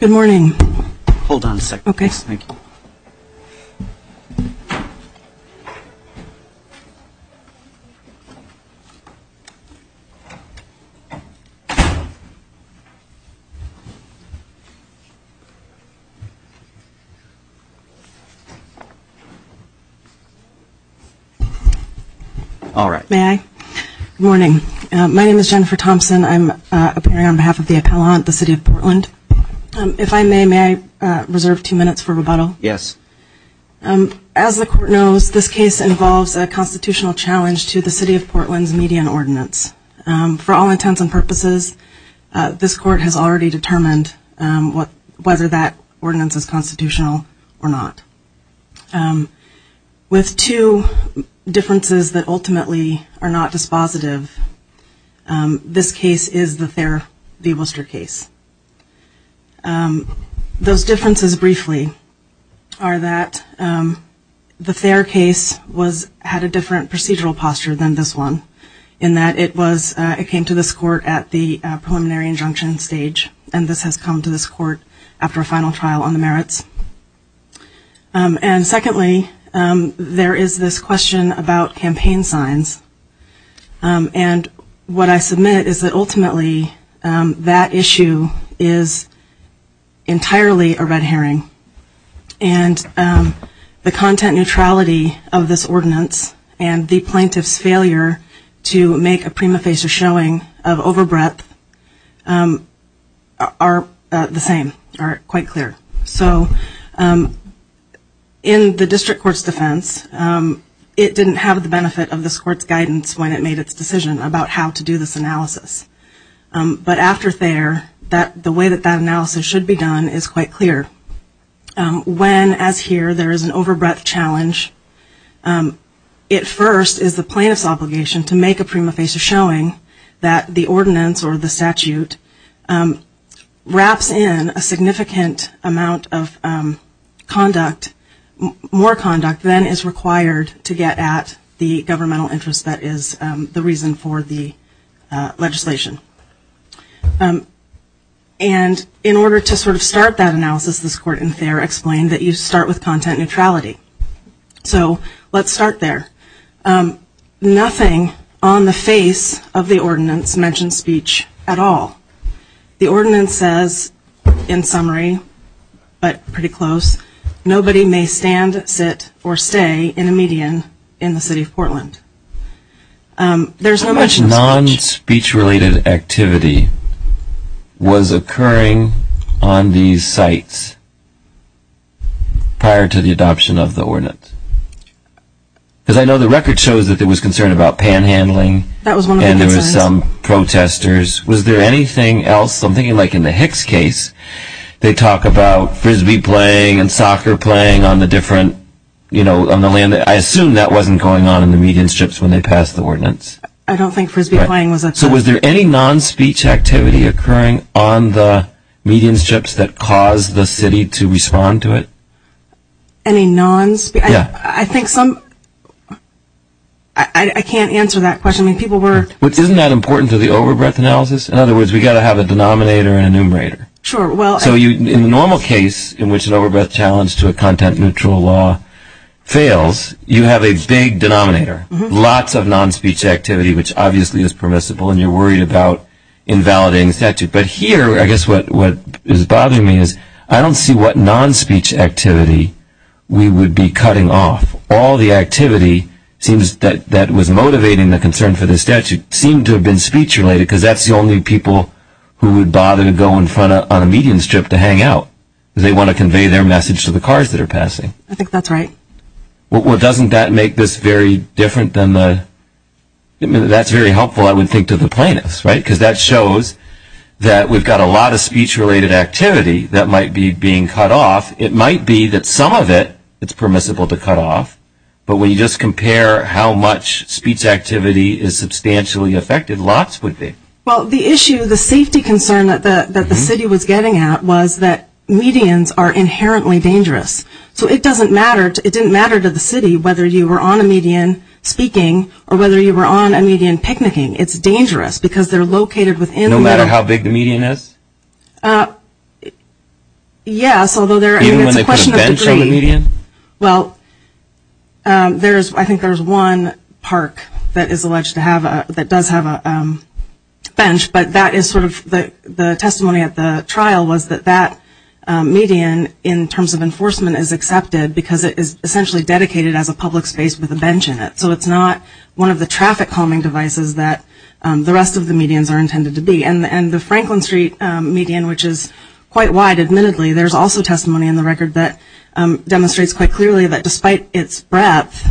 Good morning. Hold on a second. Okay. Thank you. All right. May I? Good morning. My name is Jennifer Thompson. I'm appearing on behalf of the appellant, the City of Portland. If I may, may I reserve two minutes for rebuttal? Yes. As the court knows, this case involves a constitutional challenge to the City of Portland's median ordinance. For all intents and purposes, this court has already determined whether that ordinance is constitutional or not. With two differences that ultimately are not dispositive, this case is the Thayer v. Worcester case. Those differences, briefly, are that the Thayer case had a different procedural posture than this one in that it came to this action stage, and this has come to this court after a final trial on the merits. And secondly, there is this question about campaign signs. And what I submit is that ultimately that issue is entirely a red herring. And the content neutrality of this ordinance and the plaintiff's failure to make a prima facie showing of over breadth are the same, are quite clear. So in the district court's defense, it didn't have the benefit of this court's guidance when it made its decision about how to do this analysis. But after Thayer, the way that that analysis should be done is quite clear. When, as here, there is an over breadth challenge, it first is the plaintiff's obligation to make a prima facie showing that the ordinance or the statute wraps in a significant amount of conduct, more conduct than is required to get at the governmental interest that is the reason for the legislation. And in order to sort of start that analysis, this court in Thayer explained that you start with content neutrality. So let's start there. Nothing on the face of the ordinance mentions speech at all. The ordinance says, in summary, but pretty close, nobody may stand, sit, or stay in a median in the city of Portland. There's no mention of speech. Non-speech related activity was occurring on these sites prior to the adoption of the ordinance. Because I know the record shows that there was concern about panhandling and there were some protesters. Was there anything else? I'm thinking like in the Hicks case, they talk about frisbee playing and soccer playing on the different, you know, on the land. I assume that wasn't going on in the median strips when they passed the ordinance. I don't think frisbee playing was a choice. So was there any non-speech activity occurring on the median strips that caused the city to respond to it? Any non-speech? I think some, I can't answer that question. I mean, people were Isn't that important to the over-breath analysis? In other words, we've got to have a denominator and a numerator. Sure, well So in the normal case, in which an over-breath challenge to a content neutral law fails, you have a big denominator. Lots of non-speech activity, which obviously is permissible and you're worried about invalidating the statute. But here, I guess what is bothering me is, I don't see what non-speech activity we would be cutting off. All the activity that was motivating the concern for the statute seemed to have been speech related, because that's the only people who would bother to go in front of, on a median strip to hang out. They want to convey their message to the cars that are passing. I think that's right. Well, doesn't that make this very different than the, that's very helpful I would think to the plaintiffs, right? Because that shows that we've got a lot of speech related activity that might be being cut off. It might be that some of it, it's permissible to cut off. But when you just compare how much speech activity is substantially affected, lots would be. Well, the issue, the safety concern that the city was getting at was that medians are inherently dangerous. So it doesn't matter, it didn't matter to the city whether you were on a median speaking or whether you were on a median picnicking. It's dangerous because they're located within the middle No matter how big the median is? Yes, although there, I mean it's a question of degree. Even when they put a bench on the median? Well, there's, I think there's one park that is alleged to have a, that does have a bench, but that is sort of, the testimony at the trial was that that median in terms of enforcement is accepted because it is essentially dedicated as a public space with a bench in it. So it's not one of the traffic calming devices that the rest of the medians are intended to be. And the Franklin Street median, which is quite wide admittedly, there's also testimony in the record that demonstrates quite clearly that despite its breadth,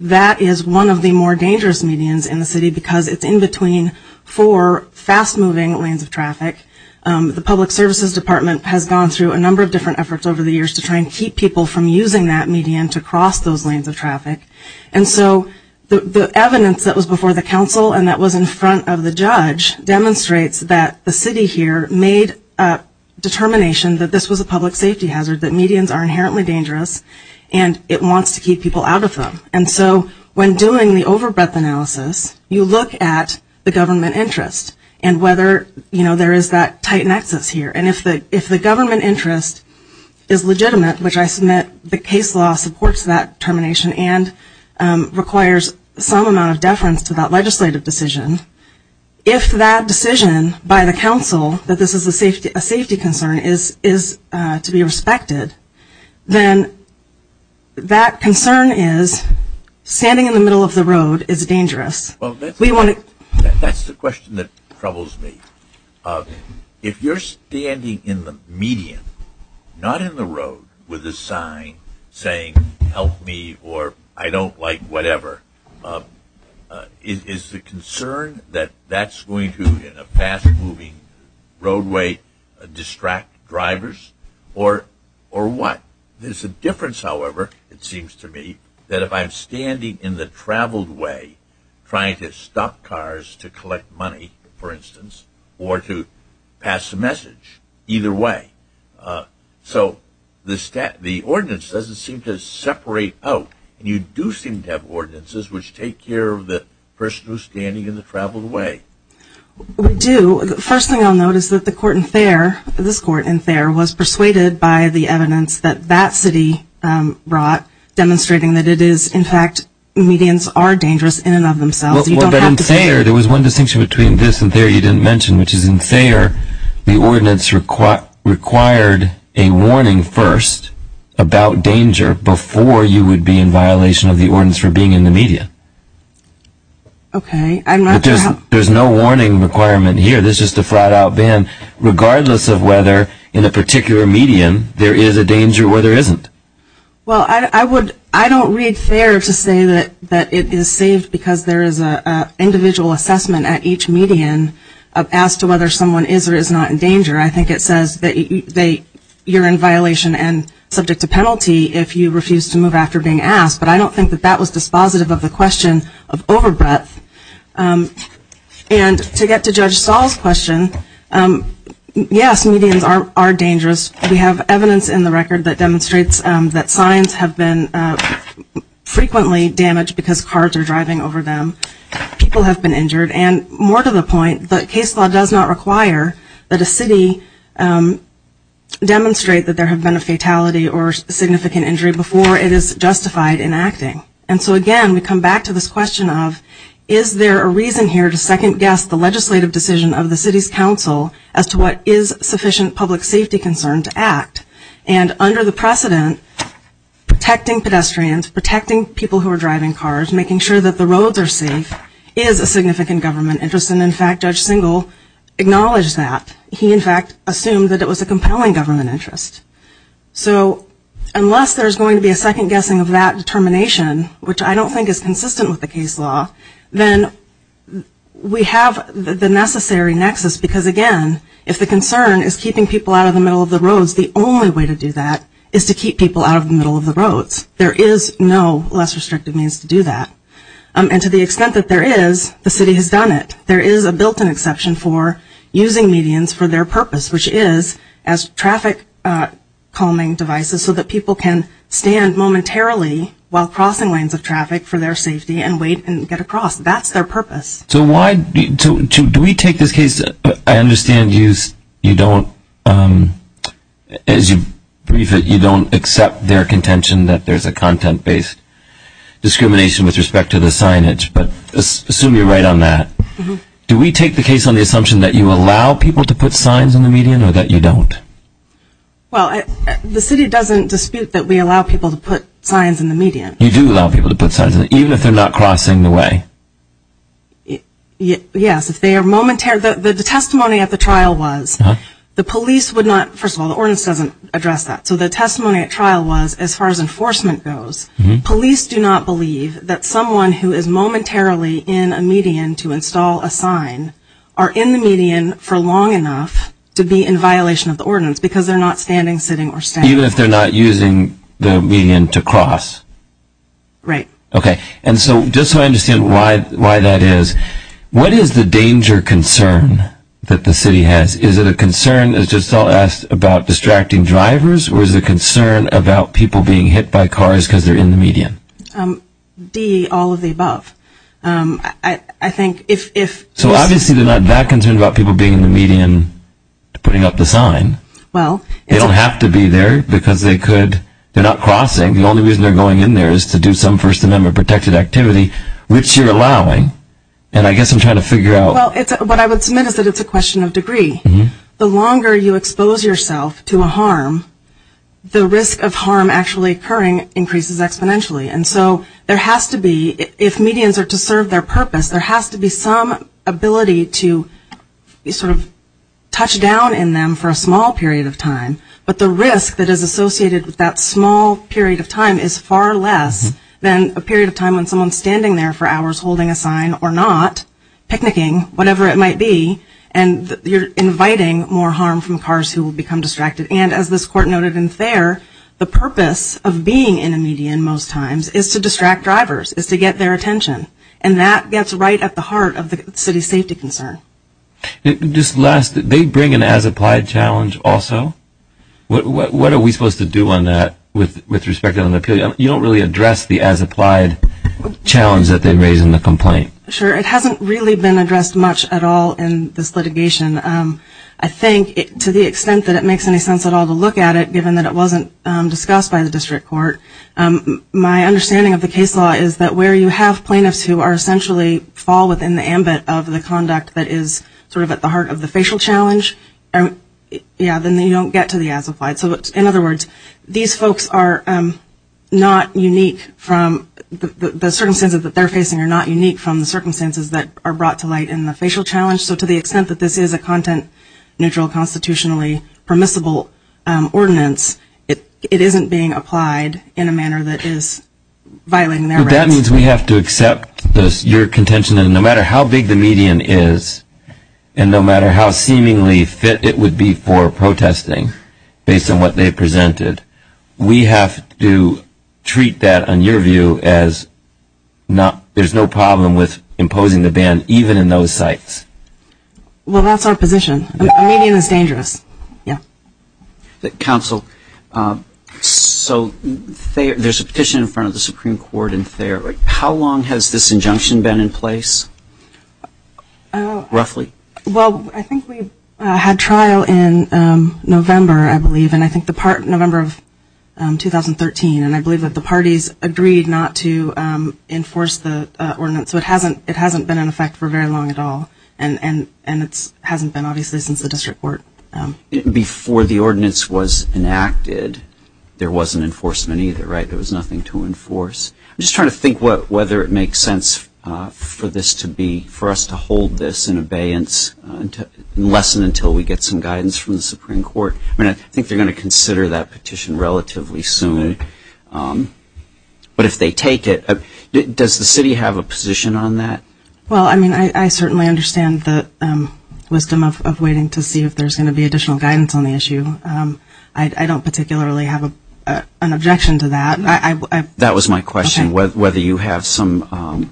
that is one of the more dangerous medians in the city because it's in between four fast moving lanes of traffic. The public services department has gone through a number of different efforts over the years to try and keep people from using that median to cross those lanes of traffic. And so the evidence that was before the council and that was in front of the judge demonstrates that the city here made a determination that this was a public safety hazard, that medians are inherently dangerous and it wants to keep people out of them. And so when doing the over breadth analysis, you look at the government interest and whether, you know, there is that tight nexus here. And if the, if the government interest is legitimate, which I submit the case law supports that termination and requires some amount of deference to that legislative decision, if that decision by the council that this is a safety, a safety concern is, is to be respected, then that concern is standing in the middle of the road is dangerous. We want to, that's the question that troubles me. If you're standing in the median, not in the road with a sign saying, help me, or I don't like whatever, is the concern that that's going to in a fast moving roadway distract drivers or, or what? There's a difference, however, it seems to me that if I'm standing in the traveled way, trying to stop cars to the stat, the ordinance doesn't seem to separate out and you do seem to have ordinances which take care of the person who's standing in the traveled way. We do. The first thing I'll note is that the court in Thayer, this court in Thayer was persuaded by the evidence that that city brought, demonstrating that it is in fact, medians are dangerous in and of themselves. Well, but in Thayer, there was one distinction between this and Thayer you didn't mention, which is in Thayer, the ordinance required a warning first about danger before you would be in violation of the ordinance for being in the median. Okay. There's no warning requirement here. This is just a flat out ban, regardless of whether in a particular median, there is a danger where there isn't. Well, I would, I don't read Thayer to say that, that it is saved because there is a limit as to whether someone is or is not in danger. I think it says that you're in violation and subject to penalty if you refuse to move after being asked, but I don't think that that was dispositive of the question of over breadth. And to get to Judge Stahl's question, yes, medians are dangerous. We have evidence in the record that demonstrates that signs have been frequently damaged because cars are driving over them. People have been injured and more to the point, the case law does not require that a city demonstrate that there have been a fatality or significant injury before it is justified in acting. And so again, we come back to this question of, is there a reason here to second guess the legislative decision of the city's council as to what is sufficient public safety concern to act? And under the precedent, protecting pedestrians, protecting people who are driving cars, making sure that the roads are safe is a significant government interest, and in fact, Judge Singel acknowledged that. He in fact assumed that it was a compelling government interest. So unless there's going to be a second guessing of that determination, which I don't think is consistent with the case law, then we have the necessary nexus because again, if the concern is keeping people out of the middle of the roads, the only way to do that is to keep people out of the middle of the roads. There is no less restrictive means to do that. And to the extent that there is, the city has done it. There is a built-in exception for using medians for their purpose, which is as traffic calming devices so that people can stand momentarily while crossing lanes of traffic for their safety and wait and get across. That's their purpose. So do we take this case, I understand you don't, as you brief it, you don't accept their as a content-based discrimination with respect to the signage, but assume you're right on that. Do we take the case on the assumption that you allow people to put signs in the median or that you don't? Well, the city doesn't dispute that we allow people to put signs in the median. You do allow people to put signs in the median, even if they're not crossing the way? Yes, if they are momentarily, the testimony at the trial was, the police would not, first of all, the ordinance doesn't address that. So the testimony at trial was, as far as enforcement goes, police do not believe that someone who is momentarily in a median to install a sign are in the median for long enough to be in violation of the ordinance because they're not standing, sitting, or standing. Even if they're not using the median to cross? Right. Okay. And so just so I understand why that is, what is the danger concern that the city has? Is it a concern, as Giselle asked, about distracting drivers, or is it a concern about people being hit by cars because they're in the median? D, all of the above. I think if... So obviously they're not that concerned about people being in the median to putting up the sign. Well... They don't have to be there because they could, they're not crossing, the only reason they're going in there is to do some First Amendment protected activity, which you're allowing. And I guess I'm trying to figure out... Well, what I would submit is that it's a question of degree. The longer you expose yourself to a harm, the risk of harm actually occurring increases exponentially. And so there has to be, if medians are to serve their purpose, there has to be some ability to sort of touch down in them for a small period of time. But the risk that is associated with that small period of time is far less than a period of time when someone's standing there for hours holding a sign or not, picnicking, whatever it might be, and you're inviting more harm from cars who will become distracted. And as this court noted in Thayer, the purpose of being in a median most times is to distract drivers, is to get their attention. And that gets right at the heart of the city's safety concern. Just last, they bring an as-applied challenge also? What are we supposed to do on that with respect to an appeal? You don't really address the as-applied challenge that they raise in the complaint. Sure. It hasn't really been addressed much at all in this litigation. I think to the extent that it makes any sense at all to look at it, given that it wasn't discussed by the district court, my understanding of the case law is that where you have plaintiffs who are essentially fall within the ambit of the conduct that is sort of at the heart of the facial challenge, yeah, then you don't get to the as-applied. So in other words, these folks are not unique from the circumstances that they're facing are not unique from the circumstances that are brought to light in the facial challenge. So to the extent that this is a content-neutral constitutionally permissible ordinance, it isn't being applied in a manner that is violating their rights. That means we have to accept your contention that no matter how big the median is, and no matter how seemingly fit it would be for protesting, based on what they presented, we have to treat that, in your view, as there's no problem with imposing the ban even in those sites. Well, that's our position. A median is dangerous. Yeah. Counsel, so there's a petition in front of the Supreme Court in Thayer. How long has this injunction been in place, roughly? Well, I think we had trial in November, I believe, and I think the part in November of 2013, and I believe that the parties agreed not to enforce the ordinance, so it hasn't been in effect for very long at all. And it hasn't been, obviously, since the district court. Before the ordinance was enacted, there wasn't enforcement either, right? There was nothing to enforce. I'm just trying to think whether it makes sense for this to be, for us to hold this in abeyance, unless and until we get some guidance from the Supreme Court. I mean, I think they're going to consider that petition relatively soon. But if they take it, does the city have a position on that? Well, I mean, I certainly understand the wisdom of waiting to see if there's going to be additional guidance on the issue. I don't particularly have an objection to that. That was my question, whether you have some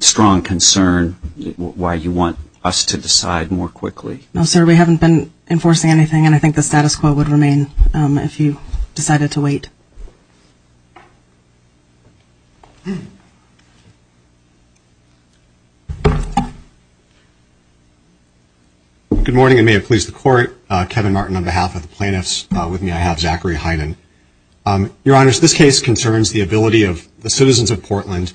strong concern, why you want us to decide more quickly. No, sir, we haven't been enforcing anything, and I think the status quo would remain, if you decided to wait. Good morning, and may it please the Court. Kevin Martin on behalf of the plaintiffs. With me I have Zachary Heiden. Your Honors, this case concerns the ability of the citizens of Portland,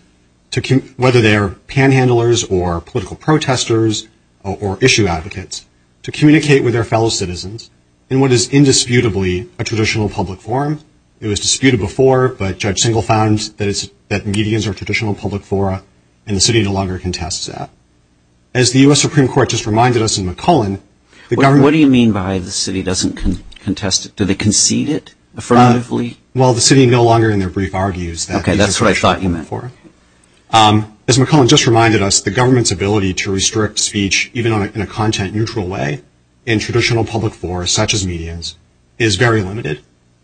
whether they are panhandlers or political protesters or issue advocates, to communicate with their fellow citizens in what is indisputably a traditional public forum. It was disputed before, but Judge Singal found that meetings are a traditional public forum and the city no longer contests that. As the U.S. Supreme Court just reminded us in McCullen, the government- What do you mean by the city doesn't contest it? Do they concede it affirmatively? Well, the city no longer in their brief argues that- Okay, that's what I thought you meant. As McCullen just reminded us, the government's ability to restrict speech, even in a content neutral way, in traditional public forums, such as meetings, is very limited,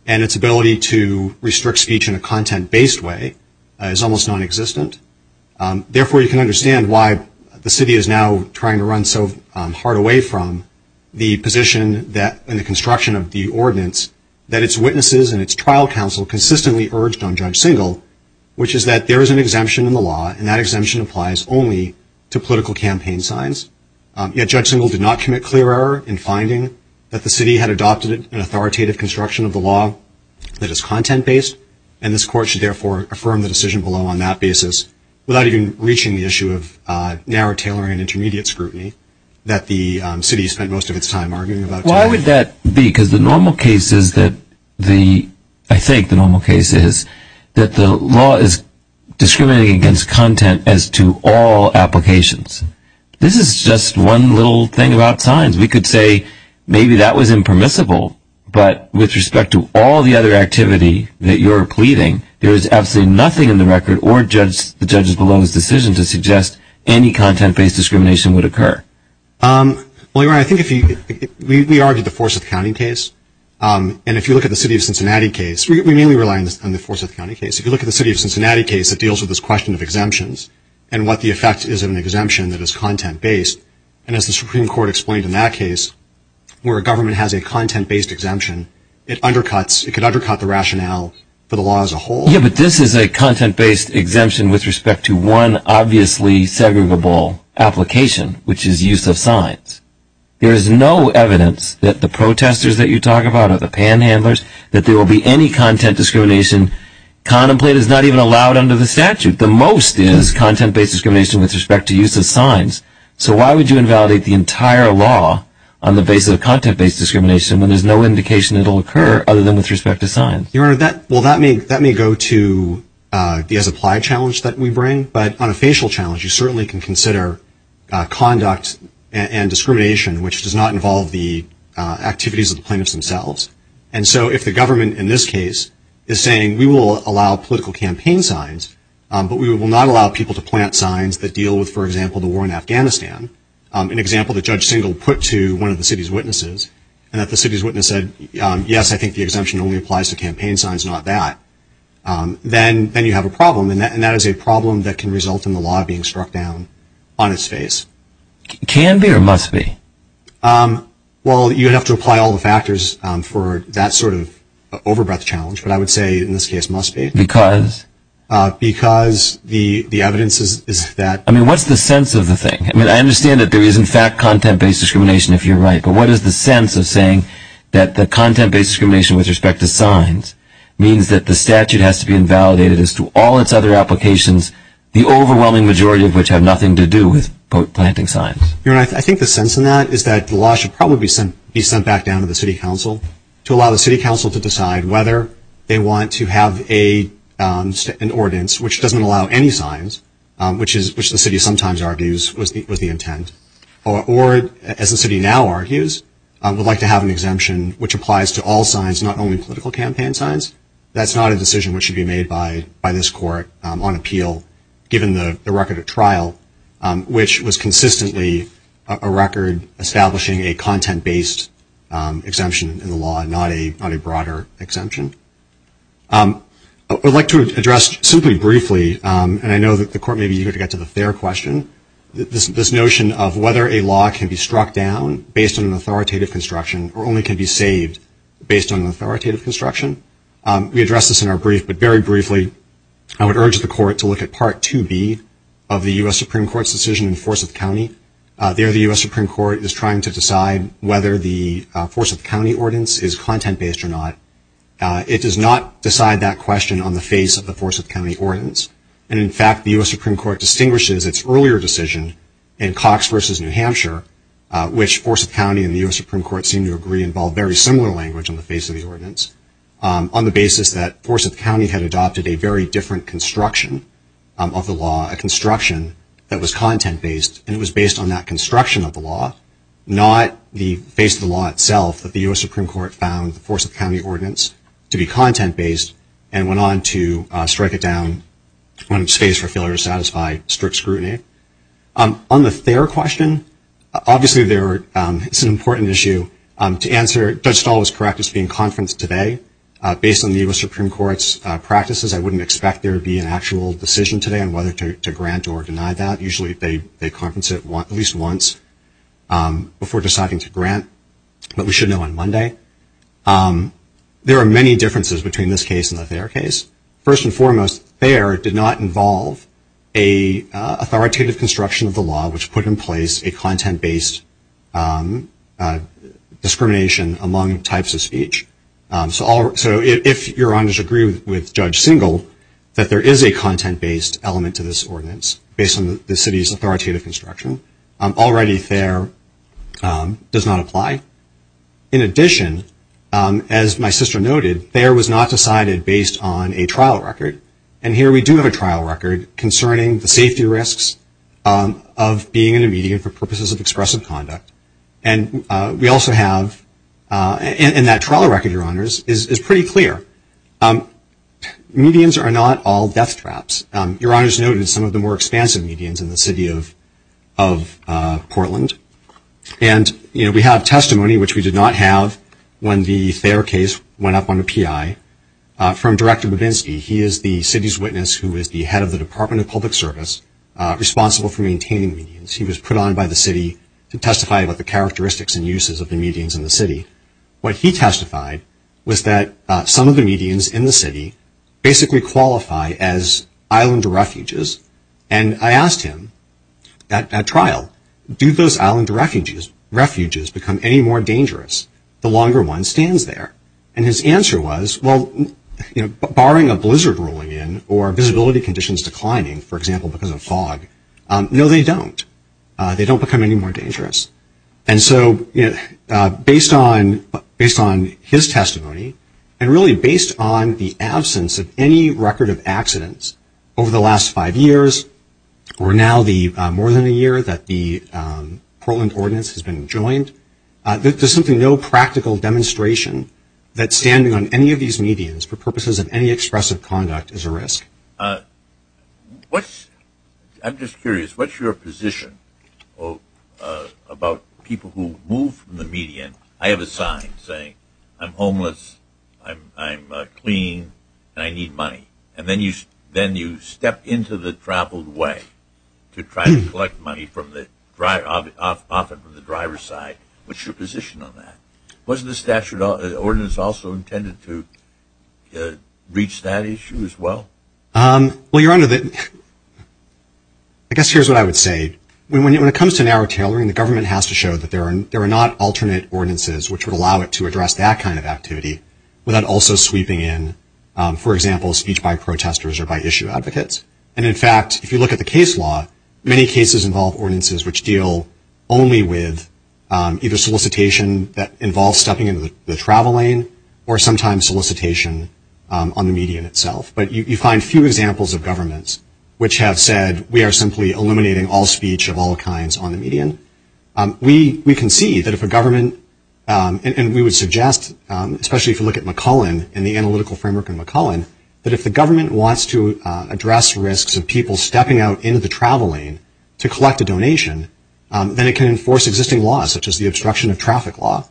and its ability to restrict speech in a content-based way is almost non-existent. Therefore, you can understand why the city is now trying to run so hard away from the position that, in the construction of the ordinance, that its witnesses and its trial counsel consistently urged on Judge Singal, which is that there is an exemption in the law, and that exemption applies only to political campaign signs. Yet, Judge Singal did not commit clear error in finding that the city had adopted an authoritative construction of the law that is content-based, and this court should therefore affirm the decision below on that basis, without even reaching the issue of narrow tailoring and Why would that be? Because the normal case is that the law is discriminating against content as to all applications. This is just one little thing about signs. We could say maybe that was impermissible, but with respect to all the other activity that you're pleading, there is absolutely nothing in the record or the judge's below's decision to suggest any content-based discrimination would occur. Well, your honor, I think if you, we argued the Forsyth County case, and if you look at the city of Cincinnati case, we mainly rely on the Forsyth County case, if you look at the city of Cincinnati case, it deals with this question of exemptions, and what the effect is of an exemption that is content-based, and as the Supreme Court explained in that case, where a government has a content-based exemption, it undercuts, it could undercut the rationale for the law as a whole. Yeah, but this is a content-based exemption with respect to one obviously segregable application, which is use of signs. There is no evidence that the protesters that you talk about, or the panhandlers, that there will be any content discrimination contemplated, it's not even allowed under the statute. The most is content-based discrimination with respect to use of signs. So why would you invalidate the entire law on the basis of content-based discrimination when there's no indication it'll occur other than with respect to signs? Your honor, that may go to the as-applied challenge that we bring, but on a facial challenge, you certainly can consider conduct and discrimination, which does not involve the activities of the plaintiffs themselves. And so if the government in this case is saying, we will allow political campaign signs, but we will not allow people to plant signs that deal with, for example, the war in Afghanistan, an example that Judge Singel put to one of the city's witnesses, and that the city's witness said, yes, I think the exemption only applies to campaign signs, not that, then you have a problem, and that is a problem that can result in the law being struck down on its face. Can be or must be? Well, you'd have to apply all the factors for that sort of over-breath challenge, but I would say in this case, must be. Because? Because the evidence is that- I mean, what's the sense of the thing? I mean, I understand that there is, in fact, content-based discrimination, if you're right, but what is the sense of saying that the content-based discrimination with respect to signs means that the statute has to be invalidated as to all its other applications, the overwhelming majority of which have nothing to do with, quote, planting signs? Your Honor, I think the sense in that is that the law should probably be sent back down to the city council to allow the city council to decide whether they want to have an ordinance which doesn't allow any signs, which the city sometimes argues was the intent, or, as the city now argues, would like to have an exemption which applies to all signs, not only political campaign signs. That's not a decision which should be made by this Court on appeal, given the record of trial, which was consistently a record establishing a content-based exemption in the law, not a broader exemption. I would like to address, simply briefly, and I know that the Court may be eager to get to the fair question, this notion of whether a law can be struck down based on an authoritative construction or only can be saved based on an authoritative construction. We addressed this in our brief, but very briefly, I would urge the Court to look at Part 2B of the U.S. Supreme Court's decision in Forsyth County. There, the U.S. Supreme Court is trying to decide whether the Forsyth County Ordinance is content-based or not. It does not decide that question on the face of the Forsyth County Ordinance, and, in fact, the U.S. Supreme Court distinguishes its earlier decision in Cox v. New Hampshire, which Forsyth County and the U.S. Supreme Court seem to agree involved very similar language on the face of the ordinance, on the basis that Forsyth County had adopted a very different construction of the law, a construction that was content-based, and it was based on that construction of the law, not the face of the law itself that the U.S. Supreme Court found the Forsyth County Ordinance to be content-based and went on to strike it down when it was faced for failure to satisfy strict scrutiny. On the Thayer question, obviously it's an important issue to answer. Judge Stahl was correct. It's being conferenced today. Based on the U.S. Supreme Court's practices, I wouldn't expect there to be an actual decision today on whether to grant or deny that. Usually they conference it at least once before deciding to grant, but we should know on Monday. There are many differences between this case and the Thayer case. First and foremost, Thayer did not involve an authoritative construction of the law which put in place a content-based discrimination among types of speech. So if Your Honors agree with Judge Singel that there is a content-based element to this ordinance based on the city's authoritative construction, already Thayer does not apply. In addition, as my sister noted, Thayer was not decided based on a trial record, and here we do have a trial record concerning the safety risks of being in a median for purposes of expressive conduct, and that trial record, Your Honors, is pretty clear. Medians are not all deathtraps. Your Honors noted some of the more expansive medians in the city of Portland, and we have testimony, which we did not have when the Thayer case went up on the PI, from Director Babinski. He is the city's witness who is the head of the Department of Public Service responsible for maintaining medians. He was put on by the city to testify about the characteristics and uses of the medians in the city. What he testified was that some of the medians in the city basically qualify as island refuges, and I asked him at trial, do those island refuges become any more dangerous? The longer one stands there, and his answer was, well, barring a blizzard rolling in or visibility conditions declining, for example, because of fog, no, they don't. They don't become any more dangerous, and so based on his testimony and really based on the absence of any record of accidents over the last five years, or now the more than a year that the Portland Ordinance has been joined, there's simply no practical demonstration that standing on any of these medians for purposes of any expressive conduct is a risk. I'm just curious, what's your position about people who move from the median, I have a sign saying, I'm homeless, I'm clean, and I need money, and then you step into the traveled way to try to collect money from the driver's side, what's your position on that? Was the statute of ordinances also intended to reach that issue as well? Well, Your Honor, I guess here's what I would say. When it comes to narrow tailoring, the government has to show that there are not alternate ordinances which would allow it to address that kind of activity without also sweeping in, for example, speech by protesters or by issue advocates, and in fact, if you look at the case law, many cases involve ordinances which deal only with either solicitation that involves stepping into the travel lane or sometimes solicitation on the median itself, but you find few examples of governments which have said, we are simply eliminating all speech of all kinds on the median. We can see that if a government, and we would suggest, especially if you look at McCullen and the analytical framework in McCullen, that if the government wants to address risks of people stepping out into the travel lane to collect a donation, then it can enforce existing laws such as the obstruction of traffic law.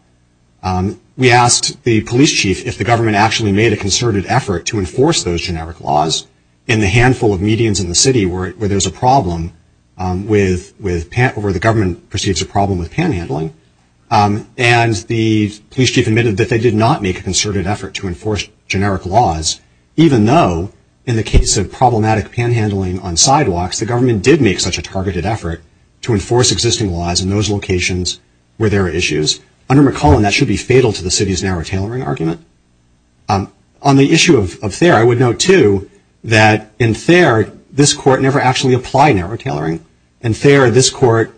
We asked the police chief if the government actually made a concerted effort to enforce those generic laws in the handful of medians in the city where there's a problem where the government perceives a problem with panhandling, and the police chief admitted that they did not make a concerted effort to enforce generic laws, even though in the case of problematic panhandling on sidewalks, the government did make such a targeted effort to enforce existing laws in those locations where there are issues. Under McCullen, that should be fatal to the city's narrow tailoring argument. On the issue of Thayer, I would note, too, that in Thayer, this court never actually applied narrow tailoring. In Thayer, this court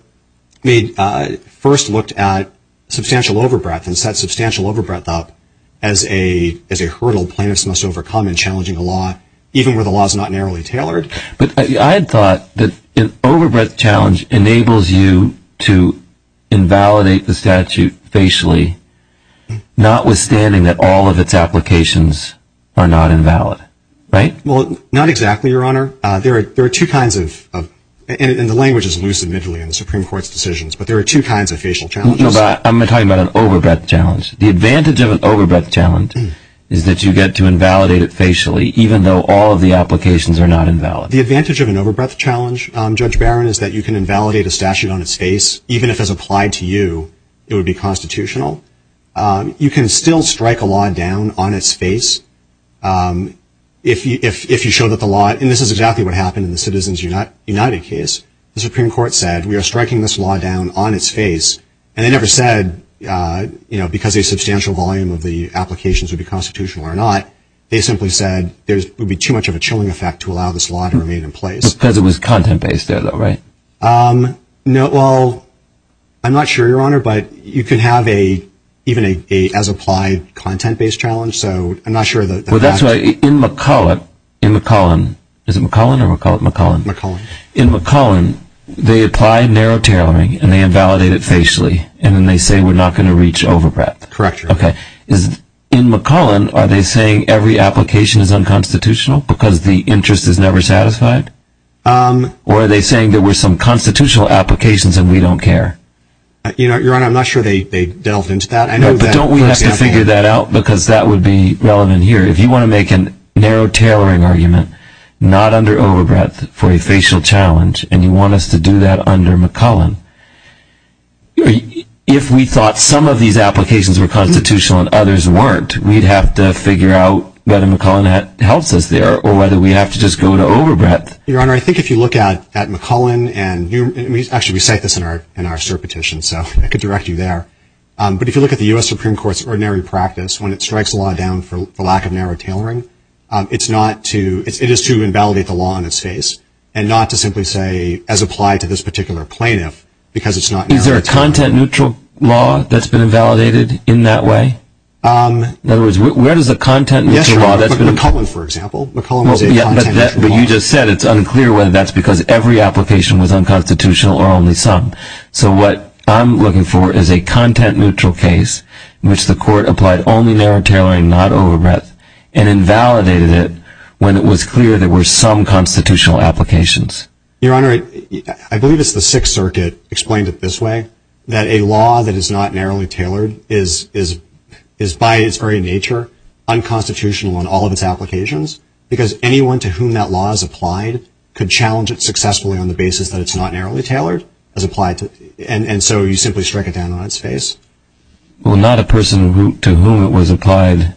first looked at substantial overbreath and set substantial overbreath up as a hurdle plaintiffs must overcome in challenging a law, even where the law is not narrowly tailored. But I had thought that an overbreath challenge enables you to invalidate the statute facially, notwithstanding that all of its applications are not invalid, right? Well, not exactly, Your Honor. There are two kinds of, and the language is loose, admittedly, in the Supreme Court's decisions, but there are two kinds of facial challenges. No, but I'm talking about an overbreath challenge. The advantage of an overbreath challenge is that you get to invalidate it facially, even though all of the applications are not invalid. The advantage of an overbreath challenge, Judge Barron, is that you can invalidate a statute on its face, even if it's applied to you, it would be constitutional. You can still strike a law down on its face if you show that the law, and this is exactly what happened in the Citizens United case, the Supreme Court said, we are striking this law down on its face, and they never said, you know, because a substantial volume of the applications would be constitutional or not, they simply said, there would be too much of a chilling effect to allow this law to remain in place. Because it was content-based there, though, right? No, well, I'm not sure, Your Honor, but you can have even an as-applied content-based challenge, so I'm not sure that that's... In McCollin, they apply narrow tailoring, and they invalidate it facially, and then they say we're not going to reach overbreath. Correct. Okay. In McCollin, are they saying every application is unconstitutional because the interest is never satisfied? Um... Or are they saying there were some constitutional applications and we don't care? You know, Your Honor, I'm not sure they delved into that. No, but don't we have to figure that out? Because that would be relevant here. If you want to make a narrow tailoring argument, not under overbreath for a facial challenge, and you want us to do that under McCollin, if we thought some of these applications were constitutional and others weren't, we'd have to figure out whether McCollin helps us there or whether we have to just go to overbreath. Your Honor, I think if you look at McCollin, and actually we cite this in our cert petition, so I could direct you there, but if you look at the U.S. Supreme Court's ordinary practice, when it strikes a law down for lack of narrow tailoring, it's not to, it is to invalidate the law in its face, and not to simply say, as applied to this particular plaintiff, because it's not narrow tailoring. Is there a content neutral law that's been invalidated in that way? Um... In other words, where does the content neutral law... Yes, Your Honor. But McCollin, for example. McCollin was a content neutral law. Yeah, but you just said it's unclear whether that's because every application was unconstitutional or only some. So what I'm looking for is a content neutral case in which the court applied only narrow tailoring, not overbreath, and invalidated it when it was clear there were some constitutional applications. Your Honor, I believe it's the Sixth Circuit explained it this way, that a law that is not narrowly tailored is by its very nature unconstitutional in all of its applications, because anyone to whom that law is applied could challenge it successfully on the basis that it's not narrowly tailored, as applied to... And so you simply strike it down on its face. Well, not a person to whom it was applied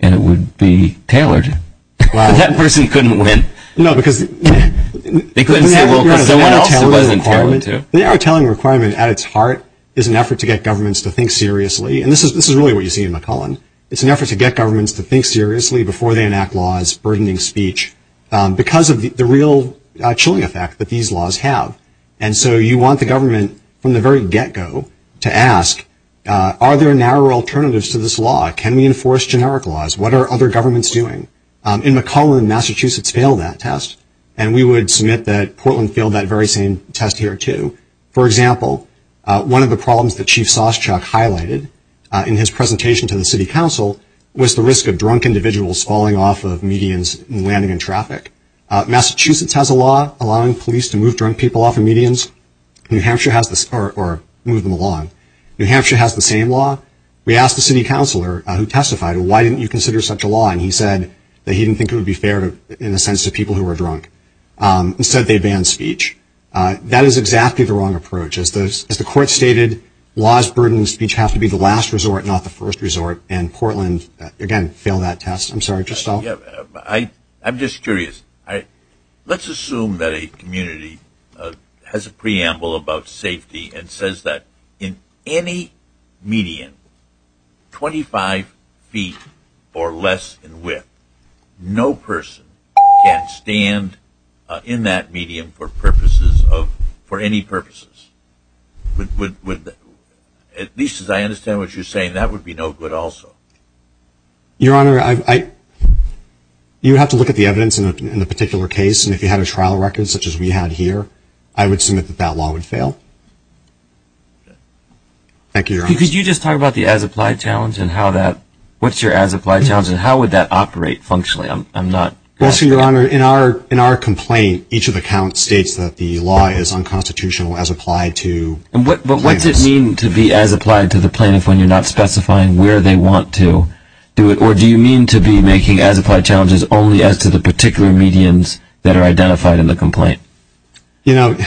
and it would be tailored. Wow. But that person couldn't win. No, because... They couldn't say, well, because someone else it wasn't tailored to. The narrow tailoring requirement at its heart is an effort to get governments to think seriously. And this is really what you see in McCollin. It's an effort to get governments to think seriously before they enact laws burdening because of the real chilling effect that these laws have. And so you want the government from the very get-go to ask, are there narrow alternatives to this law? Can we enforce generic laws? What are other governments doing? In McCollin, Massachusetts failed that test, and we would submit that Portland failed that very same test here, too. For example, one of the problems that Chief Soschuck highlighted in his presentation to the city council was the risk of drunk individuals falling off of medians and landing in traffic. Massachusetts has a law allowing police to move drunk people off of medians. New Hampshire has the... Or move them along. New Hampshire has the same law. We asked the city councilor who testified, well, why didn't you consider such a law? And he said that he didn't think it would be fair in the sense of people who were drunk. Instead, they banned speech. That is exactly the wrong approach. As the court stated, laws burdening speech have to be the last resort, not the first resort. And Portland, again, failed that test. I'm sorry. Tristal? Yeah. I'm just curious. Let's assume that a community has a preamble about safety and says that in any median 25 feet or less in width, no person can stand in that medium for purposes of... For any purposes. At least as I understand what you're saying, that would be no good also. Your Honor, I... You would have to look at the evidence in the particular case, and if you had a trial record such as we had here, I would submit that that law would fail. Thank you, Your Honor. Could you just talk about the as-applied challenge and how that... What's your as-applied challenge, and how would that operate functionally? I'm not... Well, see, Your Honor, in our complaint, each of the counts states that the law is unconstitutional as applied to plaintiffs. But what does it mean to be as-applied to the plaintiff when you're not specifying where they want to do it, or do you mean to be making as-applied challenges only as to the particular medians that are identified in the complaint? You know,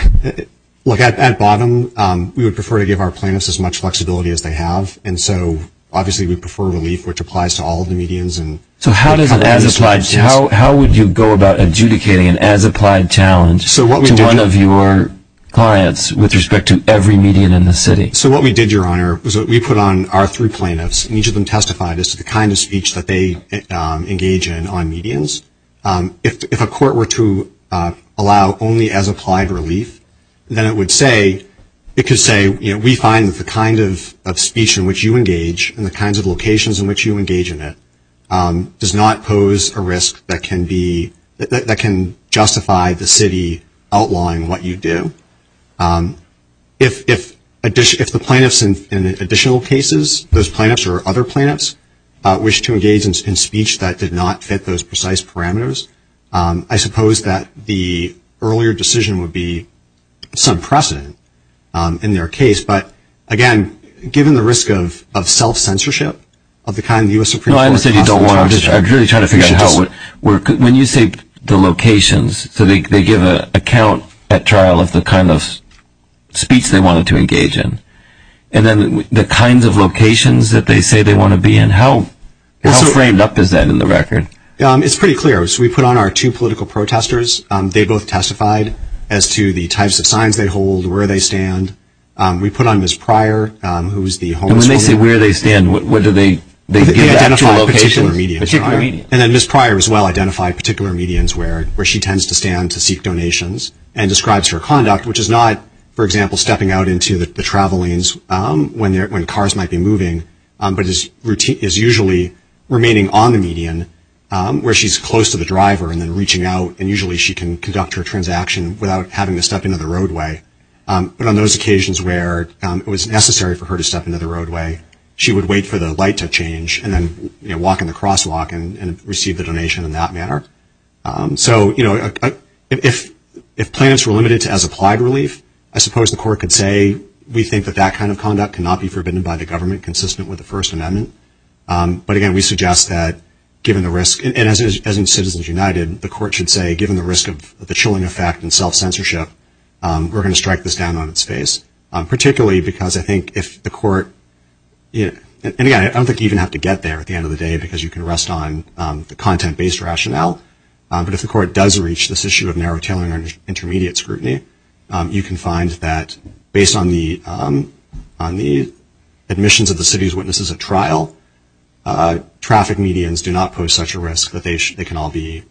look, at bottom, we would prefer to give our plaintiffs as much flexibility as they have, and so, obviously, we prefer relief, which applies to all of the medians and... So how does an as-applied... How would you go about adjudicating an as-applied challenge to one of your clients? With respect to every median in the city? So what we did, Your Honor, was we put on our three plaintiffs, and each of them testified as to the kind of speech that they engage in on medians. If a court were to allow only as-applied relief, then it would say... It could say, you know, we find that the kind of speech in which you engage and the kinds of locations in which you engage in it does not pose a risk that can be... If the plaintiffs in additional cases, those plaintiffs or other plaintiffs, wish to engage in speech that did not fit those precise parameters, I suppose that the earlier decision would be some precedent in their case, but, again, given the risk of self-censorship of the kind the U.S. Supreme Court... No, I understand you don't want to... I'm really trying to figure out what... When you say the locations, so they give a count at trial of the kind of speech they wanted to engage in, and then the kinds of locations that they say they want to be in, how framed up is that in the record? It's pretty clear. So we put on our two political protesters. They both testified as to the types of signs they hold, where they stand. We put on Ms. Pryor, who is the homeless woman... And when they say where they stand, what do they... They identify particular medians, right? They identify particular medians. And then Ms. Pryor, as well, identified particular medians where she tends to stand to seek donations and describes her conduct, which is not, for example, stepping out into the travel lanes when cars might be moving, but is usually remaining on the median, where she's close to the driver and then reaching out, and usually she can conduct her transaction without having to step into the roadway. But on those occasions where it was necessary for her to step into the roadway, she would wait for the light to change and then walk in the crosswalk and receive the donation in that manner. So if plans were limited to as applied relief, I suppose the court could say, we think that that kind of conduct cannot be forbidden by the government, consistent with the First Amendment. But again, we suggest that, given the risk... And as in Citizens United, the court should say, given the risk of the chilling effect and self-censorship, we're going to strike this down on its face. Particularly because I think if the court... And again, I don't think you even have to get there at the end of the day because you can rest on the content-based rationale. But if the court does reach this issue of narrow tailoring or intermediate scrutiny, you can find that, based on the admissions of the city's witnesses at trial, traffic medians do not pose such a risk that they can all be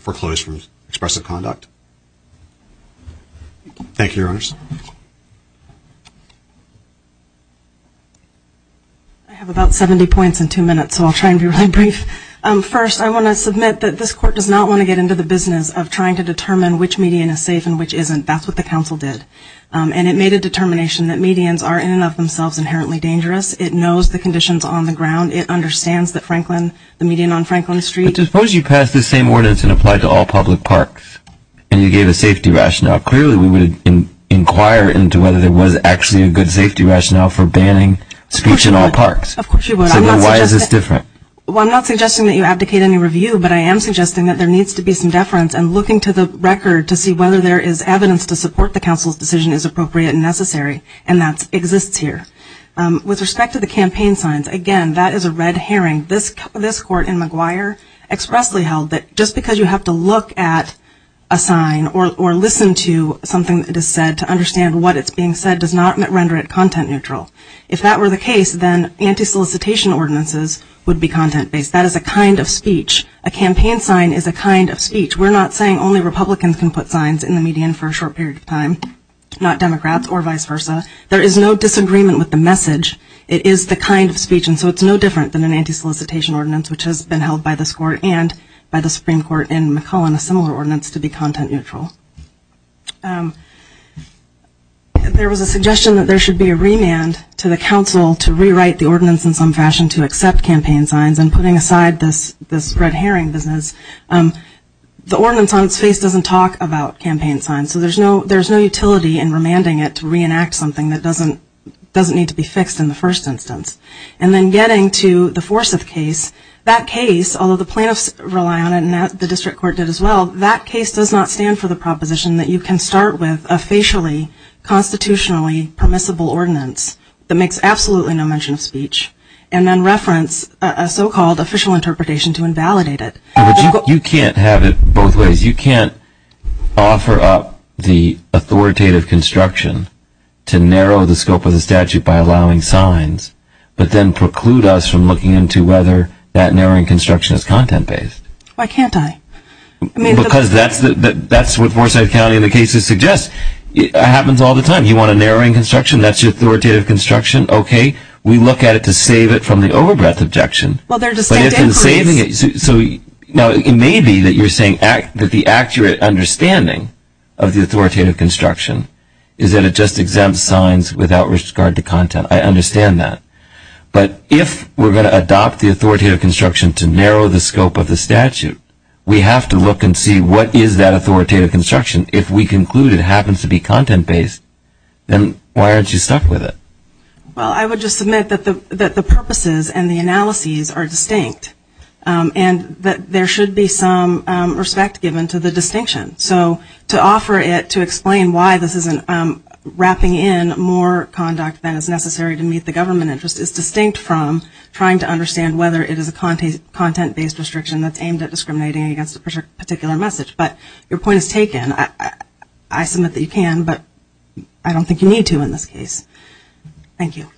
foreclosed from expressive conduct. Thank you, Your Honors. I have about 70 points in two minutes, so I'll try and be really brief. First, I want to submit that this court does not want to get into the business of trying to determine which median is safe and which isn't. That's what the council did. And it made a determination that medians are, in and of themselves, inherently dangerous. It knows the conditions on the ground. It understands that Franklin... The median on Franklin Street... But suppose you pass this same ordinance and apply it to all public parks. It's not going to work. It's not going to work. It's not going to work. It's not going to work. And you gave a safety rationale. Clearly, we would inquire into whether there was actually a good safety rationale for banning speech in all parks. Of course you would. So then why is this different? Well, I'm not suggesting that you abdicate any review, but I am suggesting that there needs to be some deference and looking to the record to see whether there is evidence to support the council's decision is appropriate and necessary, and that exists here. With respect to the campaign signs, again, that is a red herring. This court in McGuire expressly held that just because you have to look at a sign or listen to something that is said to understand what is being said does not render it content neutral. If that were the case, then anti-solicitation ordinances would be content-based. That is a kind of speech. A campaign sign is a kind of speech. We're not saying only Republicans can put signs in the median for a short period of time, not Democrats or vice versa. There is no disagreement with the message. It is the kind of speech. So it is no different than an anti-solicitation ordinance, which has been held by this court and by the Supreme Court in McClellan, a similar ordinance, to be content neutral. There was a suggestion that there should be a remand to the council to rewrite the ordinance in some fashion to accept campaign signs, and putting aside this red herring business, the ordinance on its face doesn't talk about campaign signs, so there is no utility in remanding it to reenact something that doesn't need to be fixed in the first instance. And then getting to the Forsyth case, that case, although the plaintiffs rely on it and the district court did as well, that case does not stand for the proposition that you can start with a facially, constitutionally permissible ordinance that makes absolutely no mention of speech, and then reference a so-called official interpretation to invalidate it. But you can't have it both ways. You can't offer up the authoritative construction to narrow the scope of the statute by allowing signs, but then preclude us from looking into whether that narrowing construction is content-based. Why can't I? Because that's what Forsyth County and the cases suggest. It happens all the time. You want a narrowing construction, that's your authoritative construction, okay. We look at it to save it from the over-breath objection, but if it's saving it, so it may be that you're saying that the accurate understanding of the authoritative construction is that it just exempts signs without regard to content. I understand that. But if we're going to adopt the authoritative construction to narrow the scope of the statute, we have to look and see what is that authoritative construction. If we conclude it happens to be content-based, then why aren't you stuck with it? Well, I would just submit that the purposes and the analyses are distinct, and that there should be some respect given to the distinction. So to offer it to explain why this isn't wrapping in more conduct than is necessary to meet the government interest is distinct from trying to understand whether it is a content-based restriction that's aimed at discriminating against a particular message. But your point is taken. I submit that you can, but I don't think you need to in this case. Thank you.